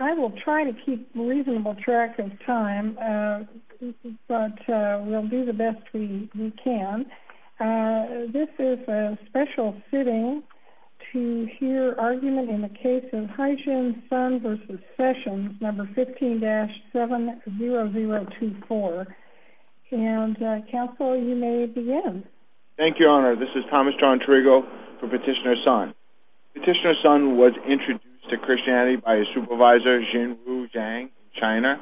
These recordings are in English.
I will try to keep a reasonable track of time, but we'll do the best we can. This is a special sitting to hear argument in the case of Haixin Sun v. Sessions, No. 15-70024. And, Counsel, you may begin. Thank you, Honor. This is Thomas John Trigo for Petitioner Sun. Petitioner Sun was introduced to Christianity by his supervisor, Xinru Zhang, in China.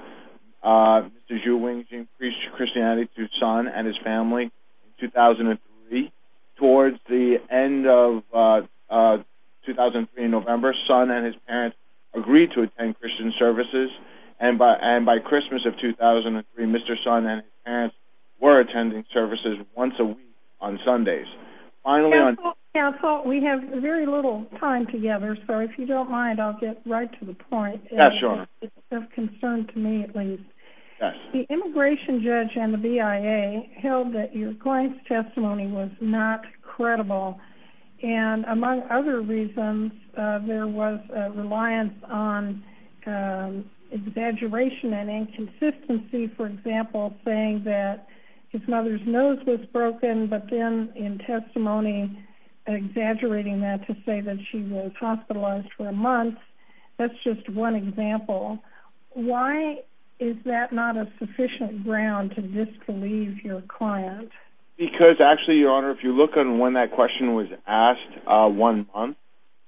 Mr. Xu Wengxin preached Christianity to Sun and his family in 2003. Towards the end of 2003, in November, Sun and his parents agreed to attend Christian services. And by Christmas of 2003, Mr. Sun and his parents were attending services once a week on Sundays. Counsel, Counsel, we have very little time together, so if you don't mind, I'll get right to the point. Yes, Your Honor. It's of concern to me, at least. The immigration judge and the BIA held that your client's testimony was not credible. And among other reasons, there was a reliance on exaggeration and inconsistency, for example, saying that his mother's nose was broken, but then, in testimony, exaggerating that to say that she was hospitalized for a month. That's just one example. Why is that not a sufficient ground to disbelieve your client? Because, actually, Your Honor, if you look at when that question was asked, one month,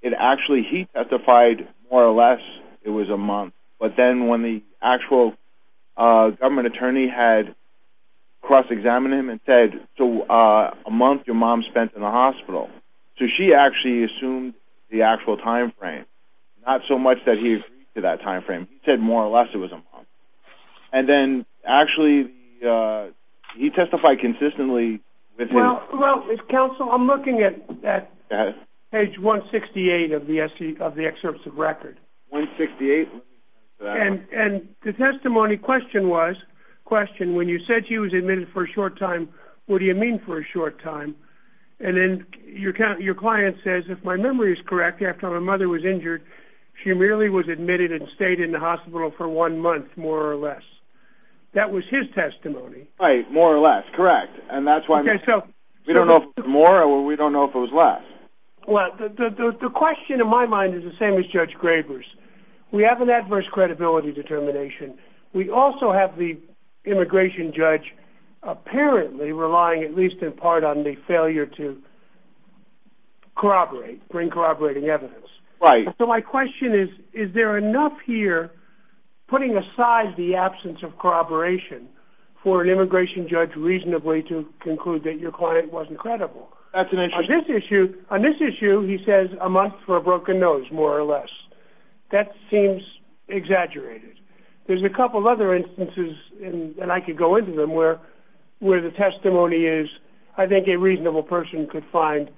it actually, he testified, more or less, it was a month. But then, when the actual government attorney had cross-examined him and said, so, a month your mom spent in the hospital. So she actually assumed the actual time frame, not so much that he agreed to that time frame. He said, more or less, it was a month. And then, actually, he testified consistently. Well, Counsel, I'm looking at page 168 of the excerpts of record. 168? And the testimony question was, when you said she was admitted for a short time, what do you mean for a short time? And then, your client says, if my memory is correct, after my mother was injured, she merely was admitted and stayed in the hospital for one month, more or less. That was his testimony. Right, more or less, correct. And that's why we don't know if it was more or we don't know if it was less. Well, the question, in my mind, is the same as Judge Graber's. We have an adverse credibility determination. We also have the immigration judge apparently relying, at least in part, on the failure to corroborate, bring corroborating evidence. Right. So my question is, is there enough here, putting aside the absence of corroboration, for an immigration judge, reasonably, to conclude that your client wasn't credible? That's an issue. On this issue, he says a month for a broken nose, more or less. That seems exaggerated. There's a couple other instances, and I could go into them, where the testimony is, I think a reasonable person could find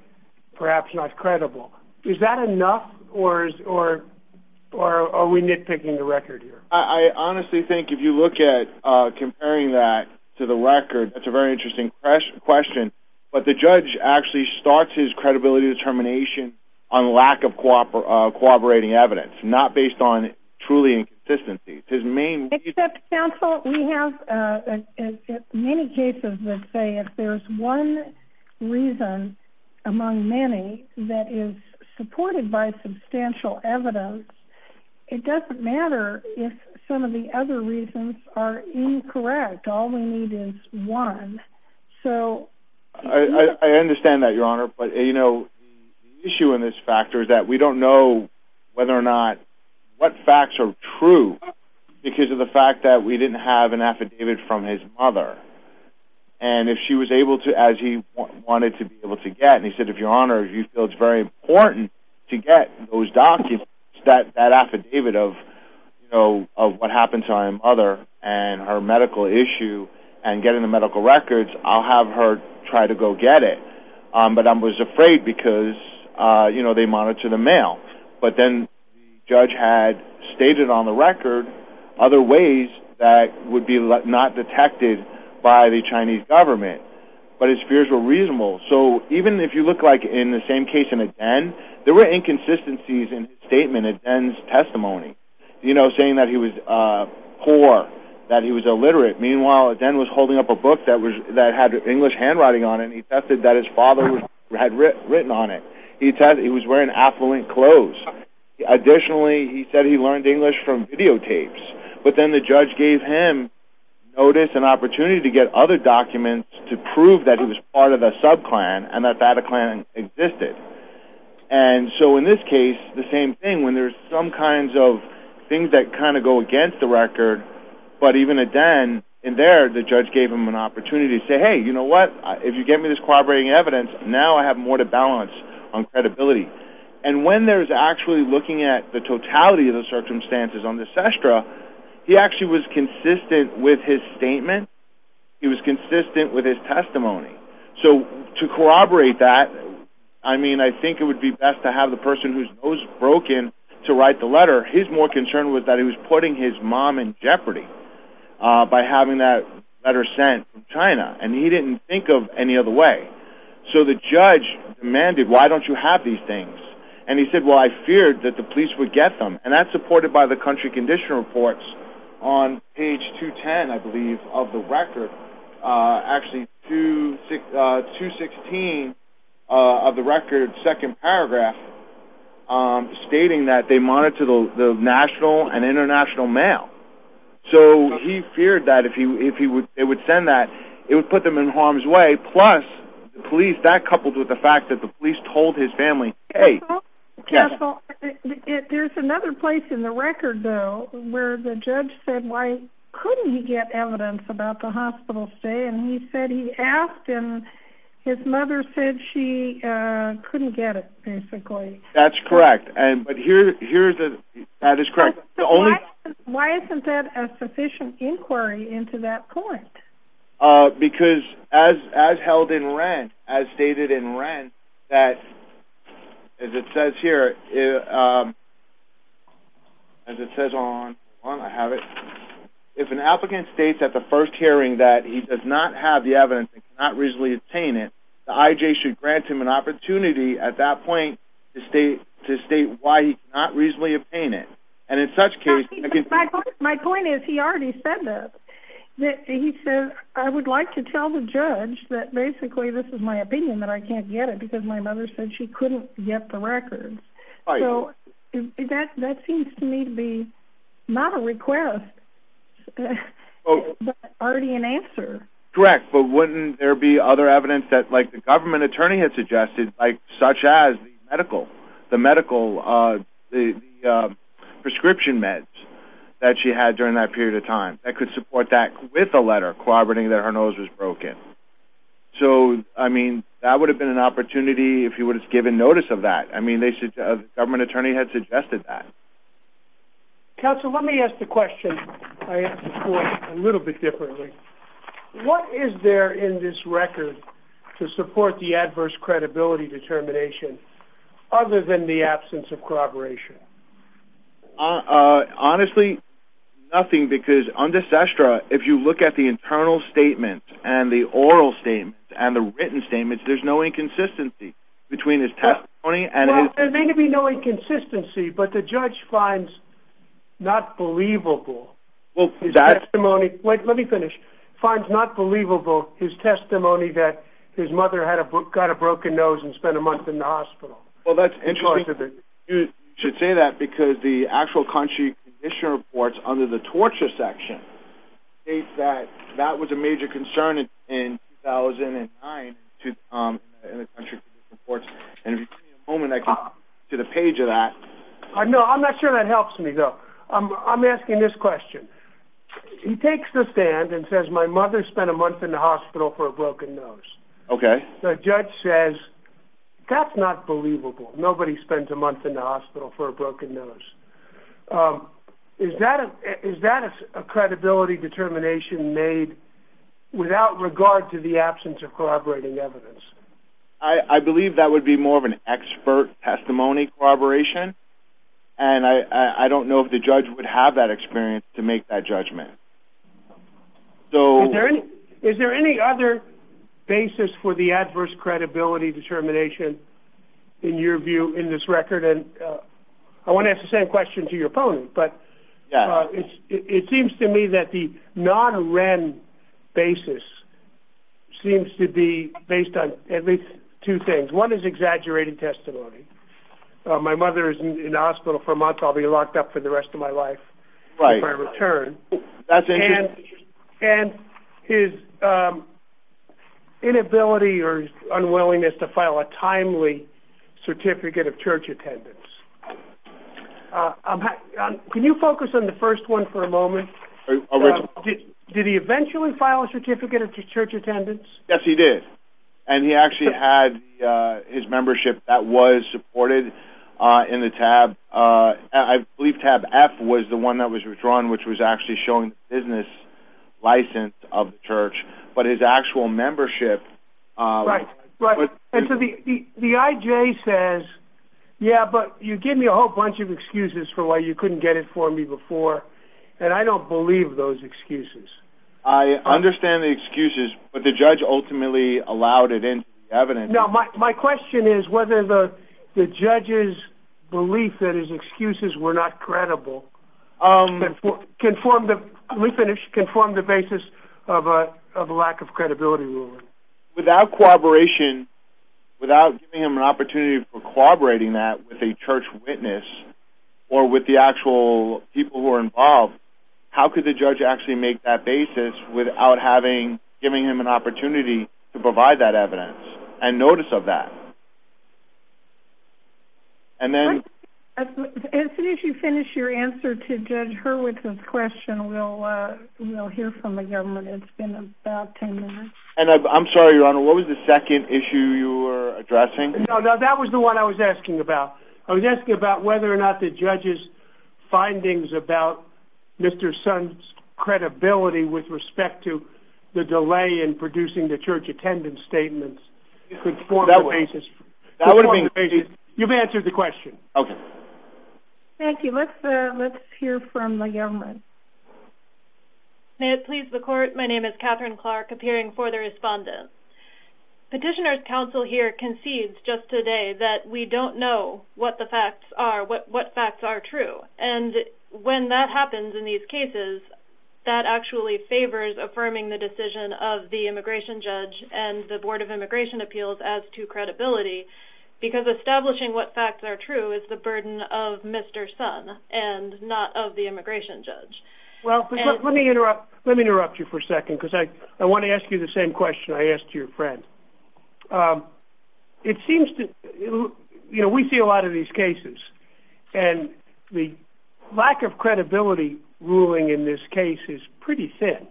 perhaps not credible. Is that enough, or are we nitpicking the record here? I honestly think if you look at comparing that to the record, that's a very interesting question. But the judge actually starts his credibility determination on lack of corroborating evidence, not based on truly inconsistency. Except, counsel, we have many cases that say if there's one reason among many that is supported by substantial evidence, it doesn't matter if some of the other reasons are incorrect. All we need is one. I understand that, Your Honor. But the issue in this factor is that we don't know whether or not, what facts are true, because of the fact that we didn't have an affidavit from his mother. And if she was able to, as he wanted to be able to get, and he said, Your Honor, you feel it's very important to get those documents, that affidavit of what happened to my mother, and her medical issue, and getting the medical records, I'll have her try to go get it. But I was afraid because, you know, they monitor the mail. But then the judge had stated on the record other ways that would be not detected by the Chinese government. But his fears were reasonable. So even if you look like in the same case in Aden, there were inconsistencies in his statement, Aden's testimony. You know, saying that he was poor, that he was illiterate. Meanwhile, Aden was holding up a book that had English handwriting on it, and he attested that his father had written on it. He was wearing affluent clothes. Additionally, he said he learned English from videotapes. But then the judge gave him notice and opportunity to get other documents to prove that he was part of a sub-clan, and that that clan existed. And so in this case, the same thing. When there's some kinds of things that kind of go against the record, but even Aden, in there, the judge gave him an opportunity to say, hey, you know what, if you give me this corroborating evidence, now I have more to balance on credibility. And when there's actually looking at the totality of the circumstances on this estra, he actually was consistent with his statement. He was consistent with his testimony. So to corroborate that, I mean, I think it would be best to have the person whose nose is broken to write the letter. His more concern was that he was putting his mom in jeopardy by having that letter sent from China, and he didn't think of any other way. So the judge demanded, why don't you have these things? And he said, well, I feared that the police would get them. And that's supported by the country condition reports on page 210, I believe, of the record. Actually, 216 of the record, second paragraph, stating that they monitor the national and international mail. So he feared that if they would send that, it would put them in harm's way. Plus, the police, that coupled with the fact that the police told his family, hey. Castle, there's another place in the record, though, where the judge said, why couldn't he get evidence about the hospital stay? And he said he asked, and his mother said she couldn't get it, basically. That's correct. But here, that is correct. Why isn't that a sufficient inquiry into that point? Because as held in Wren, as stated in Wren, that, as it says here, as it says on, I have it, if an applicant states at the first hearing that he does not have the evidence and cannot reasonably obtain it, the IJ should grant him an opportunity at that point to state why he cannot reasonably obtain it. My point is, he already said that. He said, I would like to tell the judge that basically this is my opinion, that I can't get it, because my mother said she couldn't get the record. So that seems to me to be not a request, but already an answer. Correct. But wouldn't there be other evidence, like the government attorney had suggested, such as the medical prescription meds that she had during that period of time, that could support that with a letter corroborating that her nose was broken? So, I mean, that would have been an opportunity if he would have given notice of that. I mean, the government attorney had suggested that. Counsel, let me ask the question, I ask the court a little bit differently. What is there in this record to support the adverse credibility determination, other than the absence of corroboration? Honestly, nothing, because under SESTRA, if you look at the internal statements and the oral statements and the written statements, there's no inconsistency between his testimony. Well, there may be no inconsistency, but the judge finds not believable. Wait, let me finish. Finds not believable his testimony that his mother got a broken nose and spent a month in the hospital. Well, that's interesting. You should say that because the actual country condition reports under the torture section state that that was a major concern in 2009 in the country condition reports. And if you give me a moment, I can get to the page of that. No, I'm not sure that helps me, though. I'm asking this question. He takes the stand and says my mother spent a month in the hospital for a broken nose. Okay. The judge says that's not believable. Nobody spends a month in the hospital for a broken nose. Is that a credibility determination made without regard to the absence of corroborating evidence? I believe that would be more of an expert testimony corroboration, and I don't know if the judge would have that experience to make that judgment. Is there any other basis for the adverse credibility determination in your view in this record? And I want to ask the same question to your opponent, but it seems to me that the non-Wren basis seems to be based on at least two things. One is exaggerated testimony. My mother is in the hospital for a month. I'll be locked up for the rest of my life if I return. And his inability or unwillingness to file a timely certificate of church attendance. Can you focus on the first one for a moment? Did he eventually file a certificate of church attendance? Yes, he did, and he actually had his membership. That was supported in the tab. I believe tab F was the one that was withdrawn, which was actually showing the business license of the church, but his actual membership... Right, right. And so the IJ says, yeah, but you gave me a whole bunch of excuses for why you couldn't get it for me before, and I don't believe those excuses. I understand the excuses, but the judge ultimately allowed it into the evidence. My question is whether the judge's belief that his excuses were not credible can form the basis of a lack of credibility ruling. Without cooperation, without giving him an opportunity for collaborating that with a church witness or with the actual people who are involved, how could the judge actually make that basis without giving him an opportunity to provide that evidence and notice of that? And then... As soon as you finish your answer to Judge Hurwitz's question, we'll hear from the government. It's been about ten minutes. And I'm sorry, Your Honor, what was the second issue you were addressing? No, that was the one I was asking about. I was asking about whether or not the judge's findings about Mr. Sun's credibility with respect to the delay in producing the church attendance statements could form the basis. That would have been... You've answered the question. Okay. Thank you. Let's hear from the government. May it please the court, my name is Catherine Clark, appearing for the respondent. Petitioner's counsel here concedes just today that we don't know what the facts are, what facts are true. And when that happens in these cases, that actually favors affirming the decision of the immigration judge and the Board of Immigration Appeals as to credibility because establishing what facts are true is the burden of Mr. Sun and not of the immigration judge. Well, let me interrupt you for a second because I want to ask you the same question I asked your friend. It seems to... You know, we see a lot of these cases and the lack of credibility ruling in this case is pretty thin.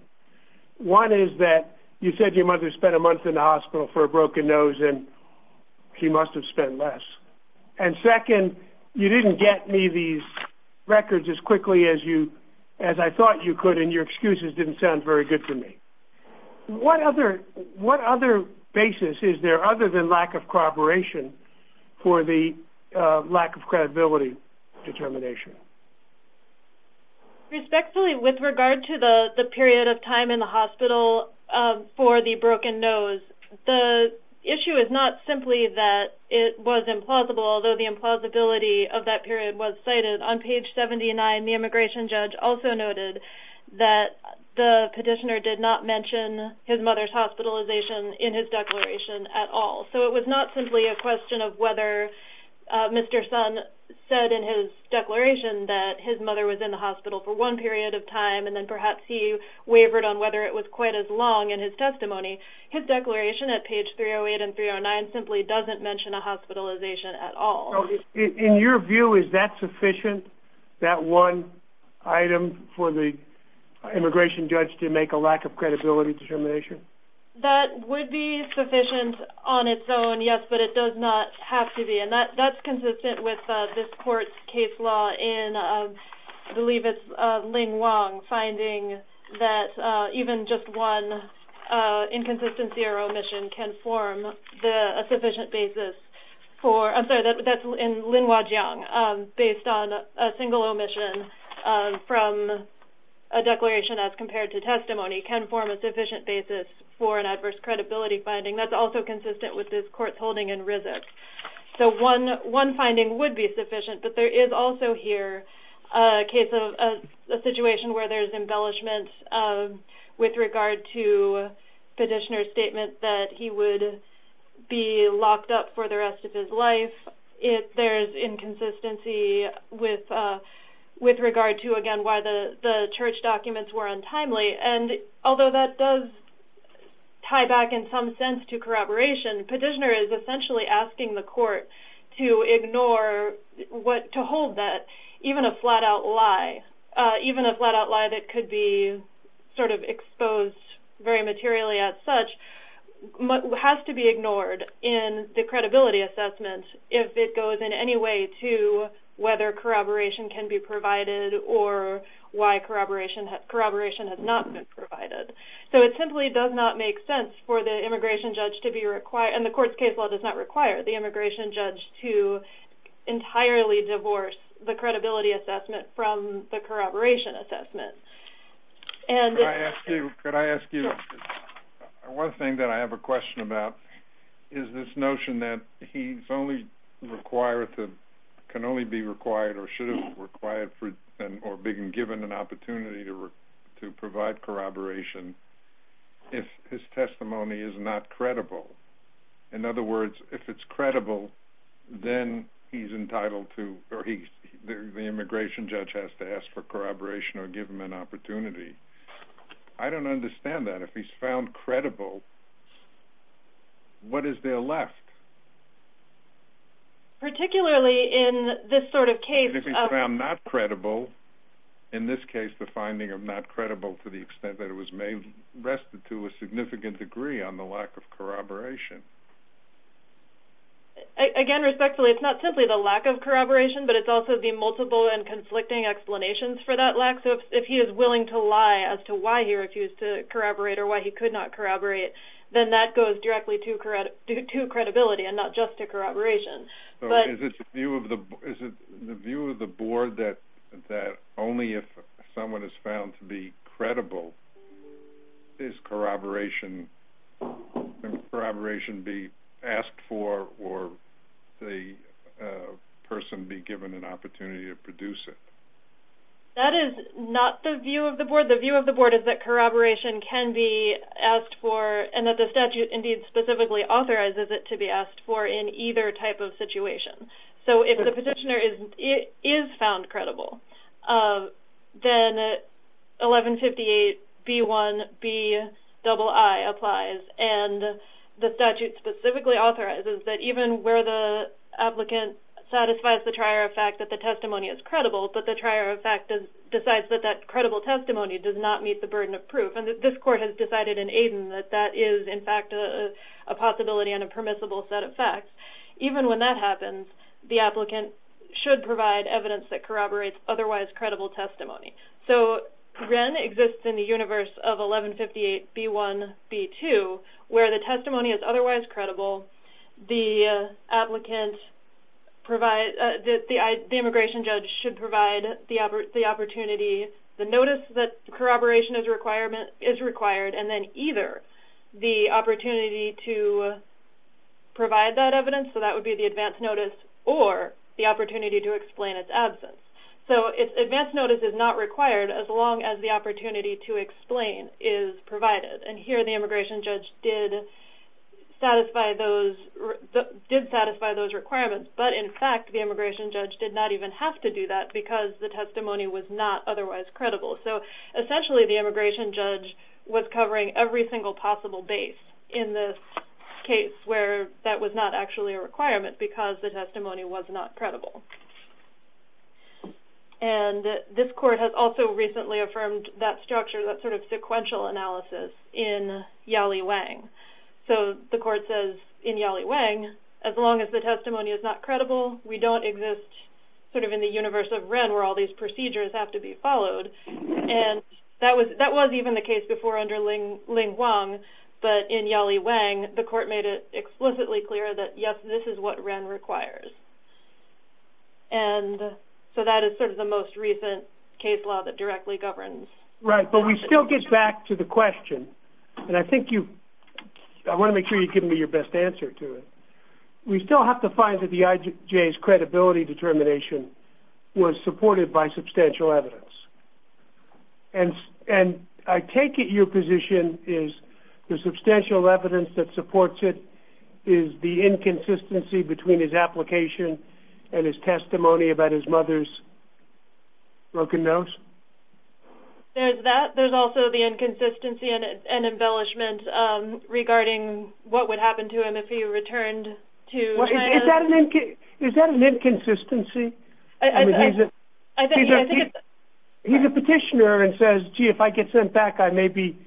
One is that you said your mother spent a month in the hospital for a broken nose and she must have spent less. And second, you didn't get me these records as quickly as I thought you could and your excuses didn't sound very good to me. What other basis is there other than lack of corroboration for the lack of credibility determination? Respectfully, with regard to the period of time in the hospital for the broken nose, the issue is not simply that it was implausible, although the implausibility of that period was cited. On page 79, the immigration judge also noted that the petitioner did not mention his mother's hospitalization in his declaration at all. So it was not simply a question of whether Mr. Sun said in his declaration that his mother was in the hospital for one period of time and then perhaps he wavered on whether it was quite as long in his testimony. His declaration at page 308 and 309 simply doesn't mention a hospitalization at all. So in your view, is that sufficient? That one item for the immigration judge to make a lack of credibility determination? That would be sufficient on its own, yes, but it does not have to be. And that's consistent with this court's case law in, I believe it's Ling Wong, finding that even just one inconsistency or omission can form a sufficient basis for – I'm sorry, that's in Lin Wah Jiang, based on a single omission from a declaration as compared to testimony can form a sufficient basis for an adverse credibility finding. That's also consistent with this court's holding in RISC. So one finding would be sufficient, but there is also here a case of a situation where there's embellishment with regard to petitioner's statement that he would be locked up for the rest of his life if there's inconsistency with regard to, again, why the church documents were untimely. And although that does tie back in some sense to corroboration, petitioner is essentially asking the court to ignore, to hold that, even a flat-out lie, even a flat-out lie that could be sort of exposed very materially as such, has to be ignored in the credibility assessment if it goes in any way to whether corroboration can be provided or why corroboration has not been provided. So it simply does not make sense for the immigration judge to be required – and the court's case law does not require the immigration judge to entirely divorce the credibility assessment from the corroboration assessment. Could I ask you one thing that I have a question about, is this notion that he can only be required or should be required or be given an opportunity to provide corroboration if his testimony is not credible. In other words, if it's credible, then he's entitled to – or the immigration judge has to ask for corroboration or give him an opportunity. I don't understand that. If he's found credible, what is there left? Particularly in this sort of case of – If he's found not credible, in this case the finding of not credible to the extent that it was restituted to a significant degree on the lack of corroboration. Again, respectfully, it's not simply the lack of corroboration, but it's also the multiple and conflicting explanations for that lack. So if he is willing to lie as to why he refused to corroborate or why he could not corroborate, then that goes directly to credibility and not just to corroboration. So is it the view of the board that only if someone is found to be credible is corroboration – can corroboration be asked for or the person be given an opportunity to produce it? That is not the view of the board. The view of the board is that corroboration can be asked for and that the statute indeed specifically authorizes it to be asked for in either type of situation. So if the petitioner is found credible, then 1158B1Bii applies, and the statute specifically authorizes that even where the applicant satisfies the trier of fact that the testimony is credible, but the trier of fact decides that that credible testimony does not meet the burden of proof, and this court has decided in Aden that that is in fact a possibility and a permissible set of facts, even when that happens, the applicant should provide evidence that corroborates otherwise credible testimony. So Wren exists in the universe of 1158B1Bii where the testimony is otherwise credible, the immigration judge should provide the opportunity, the notice that corroboration is required, and then either the opportunity to provide that evidence, so that would be the advance notice, or the opportunity to explain its absence. So advance notice is not required as long as the opportunity to explain is provided, and here the immigration judge did satisfy those requirements, but in fact the immigration judge did not even have to do that because the testimony was not otherwise credible. So essentially the immigration judge was covering every single possible base in this case where that was not actually a requirement because the testimony was not credible. And this court has also recently affirmed that structure, that sort of sequential analysis in Yali Wang. So the court says in Yali Wang, as long as the testimony is not credible, we don't exist sort of in the universe of Wren where all these procedures have to be followed, and that was even the case before under Ling Wang, but in Yali Wang the court made it explicitly clear that, yes, this is what Wren requires. And so that is sort of the most recent case law that directly governs. Right, but we still get back to the question, and I want to make sure you give me your best answer to it. We still have to find that the IJ's credibility determination was supported by substantial evidence. And I take it your position is the substantial evidence that supports it is the inconsistency between his application and his testimony about his mother's broken nose? There's that. There's also the inconsistency and embellishment regarding what would happen to him if he returned to China. Is that an inconsistency? He's a petitioner and says, gee, if I get sent back, I may be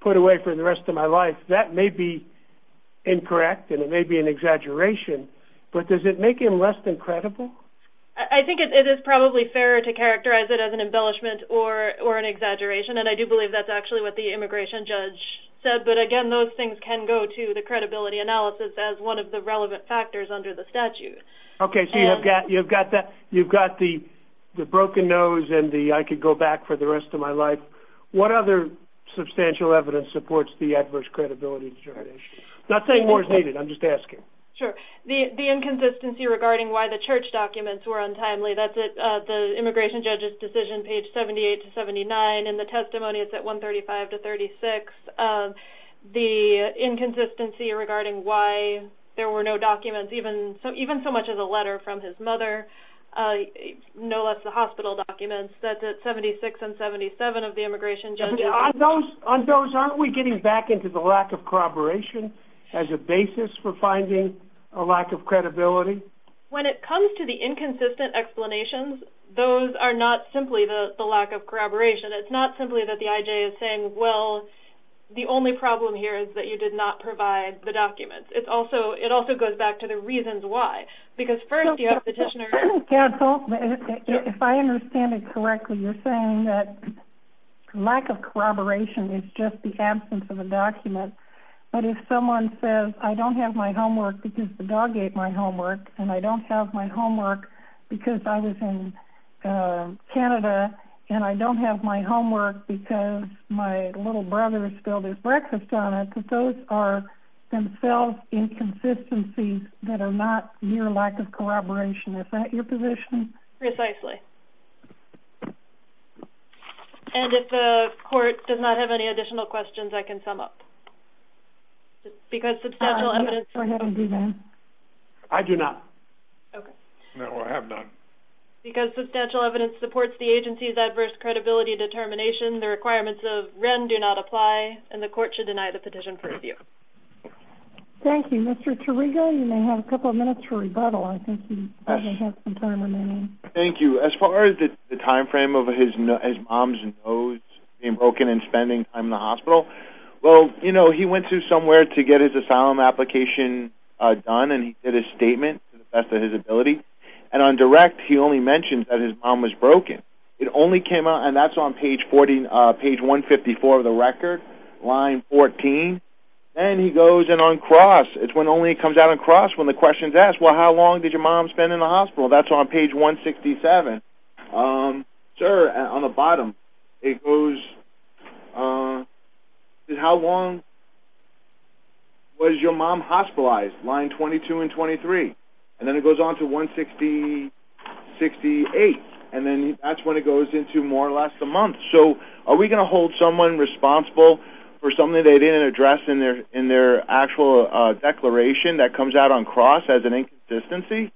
put away for the rest of my life. That may be incorrect and it may be an exaggeration, but does it make him less than credible? I think it is probably fair to characterize it as an embellishment or an exaggeration, and I do believe that's actually what the immigration judge said, but, again, those things can go to the credibility analysis as one of the relevant factors under the statute. Okay, so you've got the broken nose and the I could go back for the rest of my life. What other substantial evidence supports the adverse credibility determination? I'm not saying more is needed. I'm just asking. Sure. The inconsistency regarding why the church documents were untimely, that's at the immigration judge's decision page 78 to 79, and the testimony is at 135 to 36. The inconsistency regarding why there were no documents, even so much as a letter from his mother, no less the hospital documents, that's at 76 and 77 of the immigration judge's decision. On those, aren't we getting back into the lack of corroboration as a basis for finding a lack of credibility? When it comes to the inconsistent explanations, those are not simply the lack of corroboration. It's not simply that the IJ is saying, well, the only problem here is that you did not provide the documents. It also goes back to the reasons why. Because first you have the petitioner. If I understand it correctly, you're saying that lack of corroboration is just the absence of a document. But if someone says, I don't have my homework because the dog ate my homework and I don't have my homework because I was in Canada and I don't have my homework because my little brother spilled his breakfast on it, those are themselves inconsistencies that are not mere lack of corroboration. Is that your position? Precisely. And if the court does not have any additional questions, I can sum up. Because substantial evidence... Go ahead and do that. I do not. No, I have not. Because substantial evidence supports the agency's adverse credibility determination, the requirements of Wren do not apply, and the court should deny the petition for review. Thank you. Mr. Tiriga, you may have a couple of minutes for rebuttal. I think you have some time remaining. Thank you. As far as the timeframe of his mom's nose being broken and spending time in the hospital, well, you know, he went to somewhere to get his asylum application done and he did a statement to the best of his ability. And on direct he only mentioned that his mom was broken. It only came out, and that's on page 154 of the record, line 14. Then he goes in on cross. It's when only it comes out on cross when the question is asked, well, how long did your mom spend in the hospital? That's on page 167. Sir, on the bottom, it goes, how long was your mom hospitalized, line 22 and 23. And then it goes on to 168. And then that's when it goes into more or less a month. So are we going to hold someone responsible for something they didn't address in their actual declaration that comes out on cross as an inconsistency,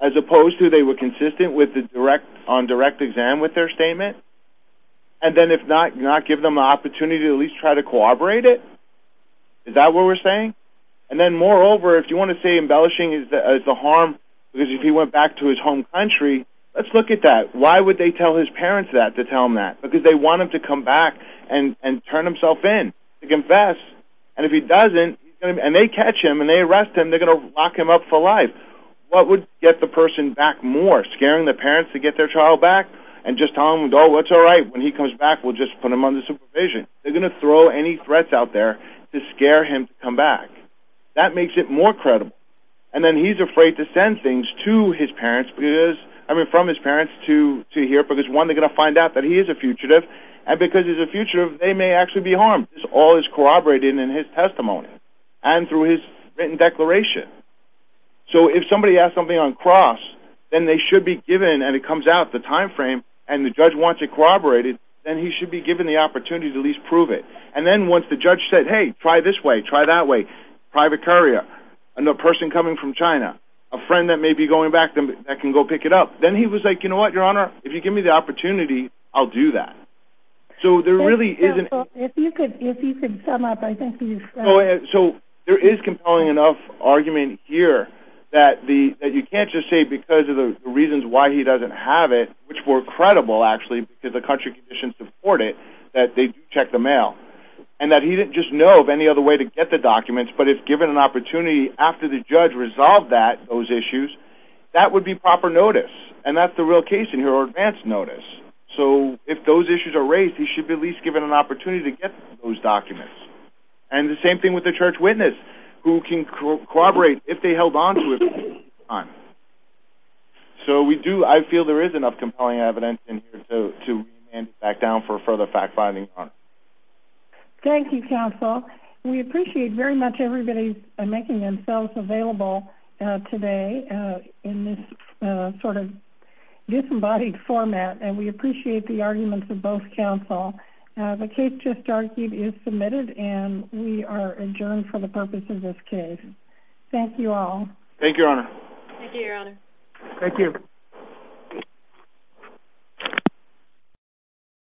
as opposed to they were consistent on direct exam with their statement? And then if not, not give them an opportunity to at least try to corroborate it? Is that what we're saying? And then, moreover, if you want to say embellishing is the harm, because if he went back to his home country, let's look at that. Why would they tell his parents that to tell him that? Because they want him to come back and turn himself in to confess. And if he doesn't, and they catch him and they arrest him, they're going to lock him up for life. What would get the person back more, scaring the parents to get their child back and just tell them, oh, it's all right, when he comes back we'll just put him under supervision? They're going to throw any threats out there to scare him to come back. That makes it more credible. And then he's afraid to send things to his parents, I mean from his parents to here, because, one, they're going to find out that he is a fugitive, and because he's a fugitive they may actually be harmed. This all is corroborated in his testimony and through his written declaration. So if somebody asks something on cross, then they should be given, and it comes out at the time frame and the judge wants it corroborated, then he should be given the opportunity to at least prove it. And then once the judge said, hey, try this way, try that way, private courier, another person coming from China, a friend that may be going back that can go pick it up, then he was like, you know what, Your Honor, if you give me the opportunity, I'll do that. So there really isn't. If you could sum up, I think you said. So there is compelling enough argument here that you can't just say because of the reasons why he doesn't have it, which were credible, actually, because the country conditions support it, that they do check the mail, and that he didn't just know of any other way to get the documents, but if given an opportunity after the judge resolved that, those issues, that would be proper notice, and that's the real case in here, or advance notice. So if those issues are raised, he should be at least given an opportunity to get those documents. And the same thing with the church witness, who can corroborate if they held onto it for a period of time. So we do, I feel there is enough compelling evidence in here to hand it back down for further fact-finding, Your Honor. Thank you, counsel. We appreciate very much everybody making themselves available today in this sort of disembodied format, and we appreciate the arguments of both counsel. The case just argued is submitted, and we are adjourned for the purpose of this case. Thank you all. Thank you, Your Honor. Thank you, Your Honor. Thank you.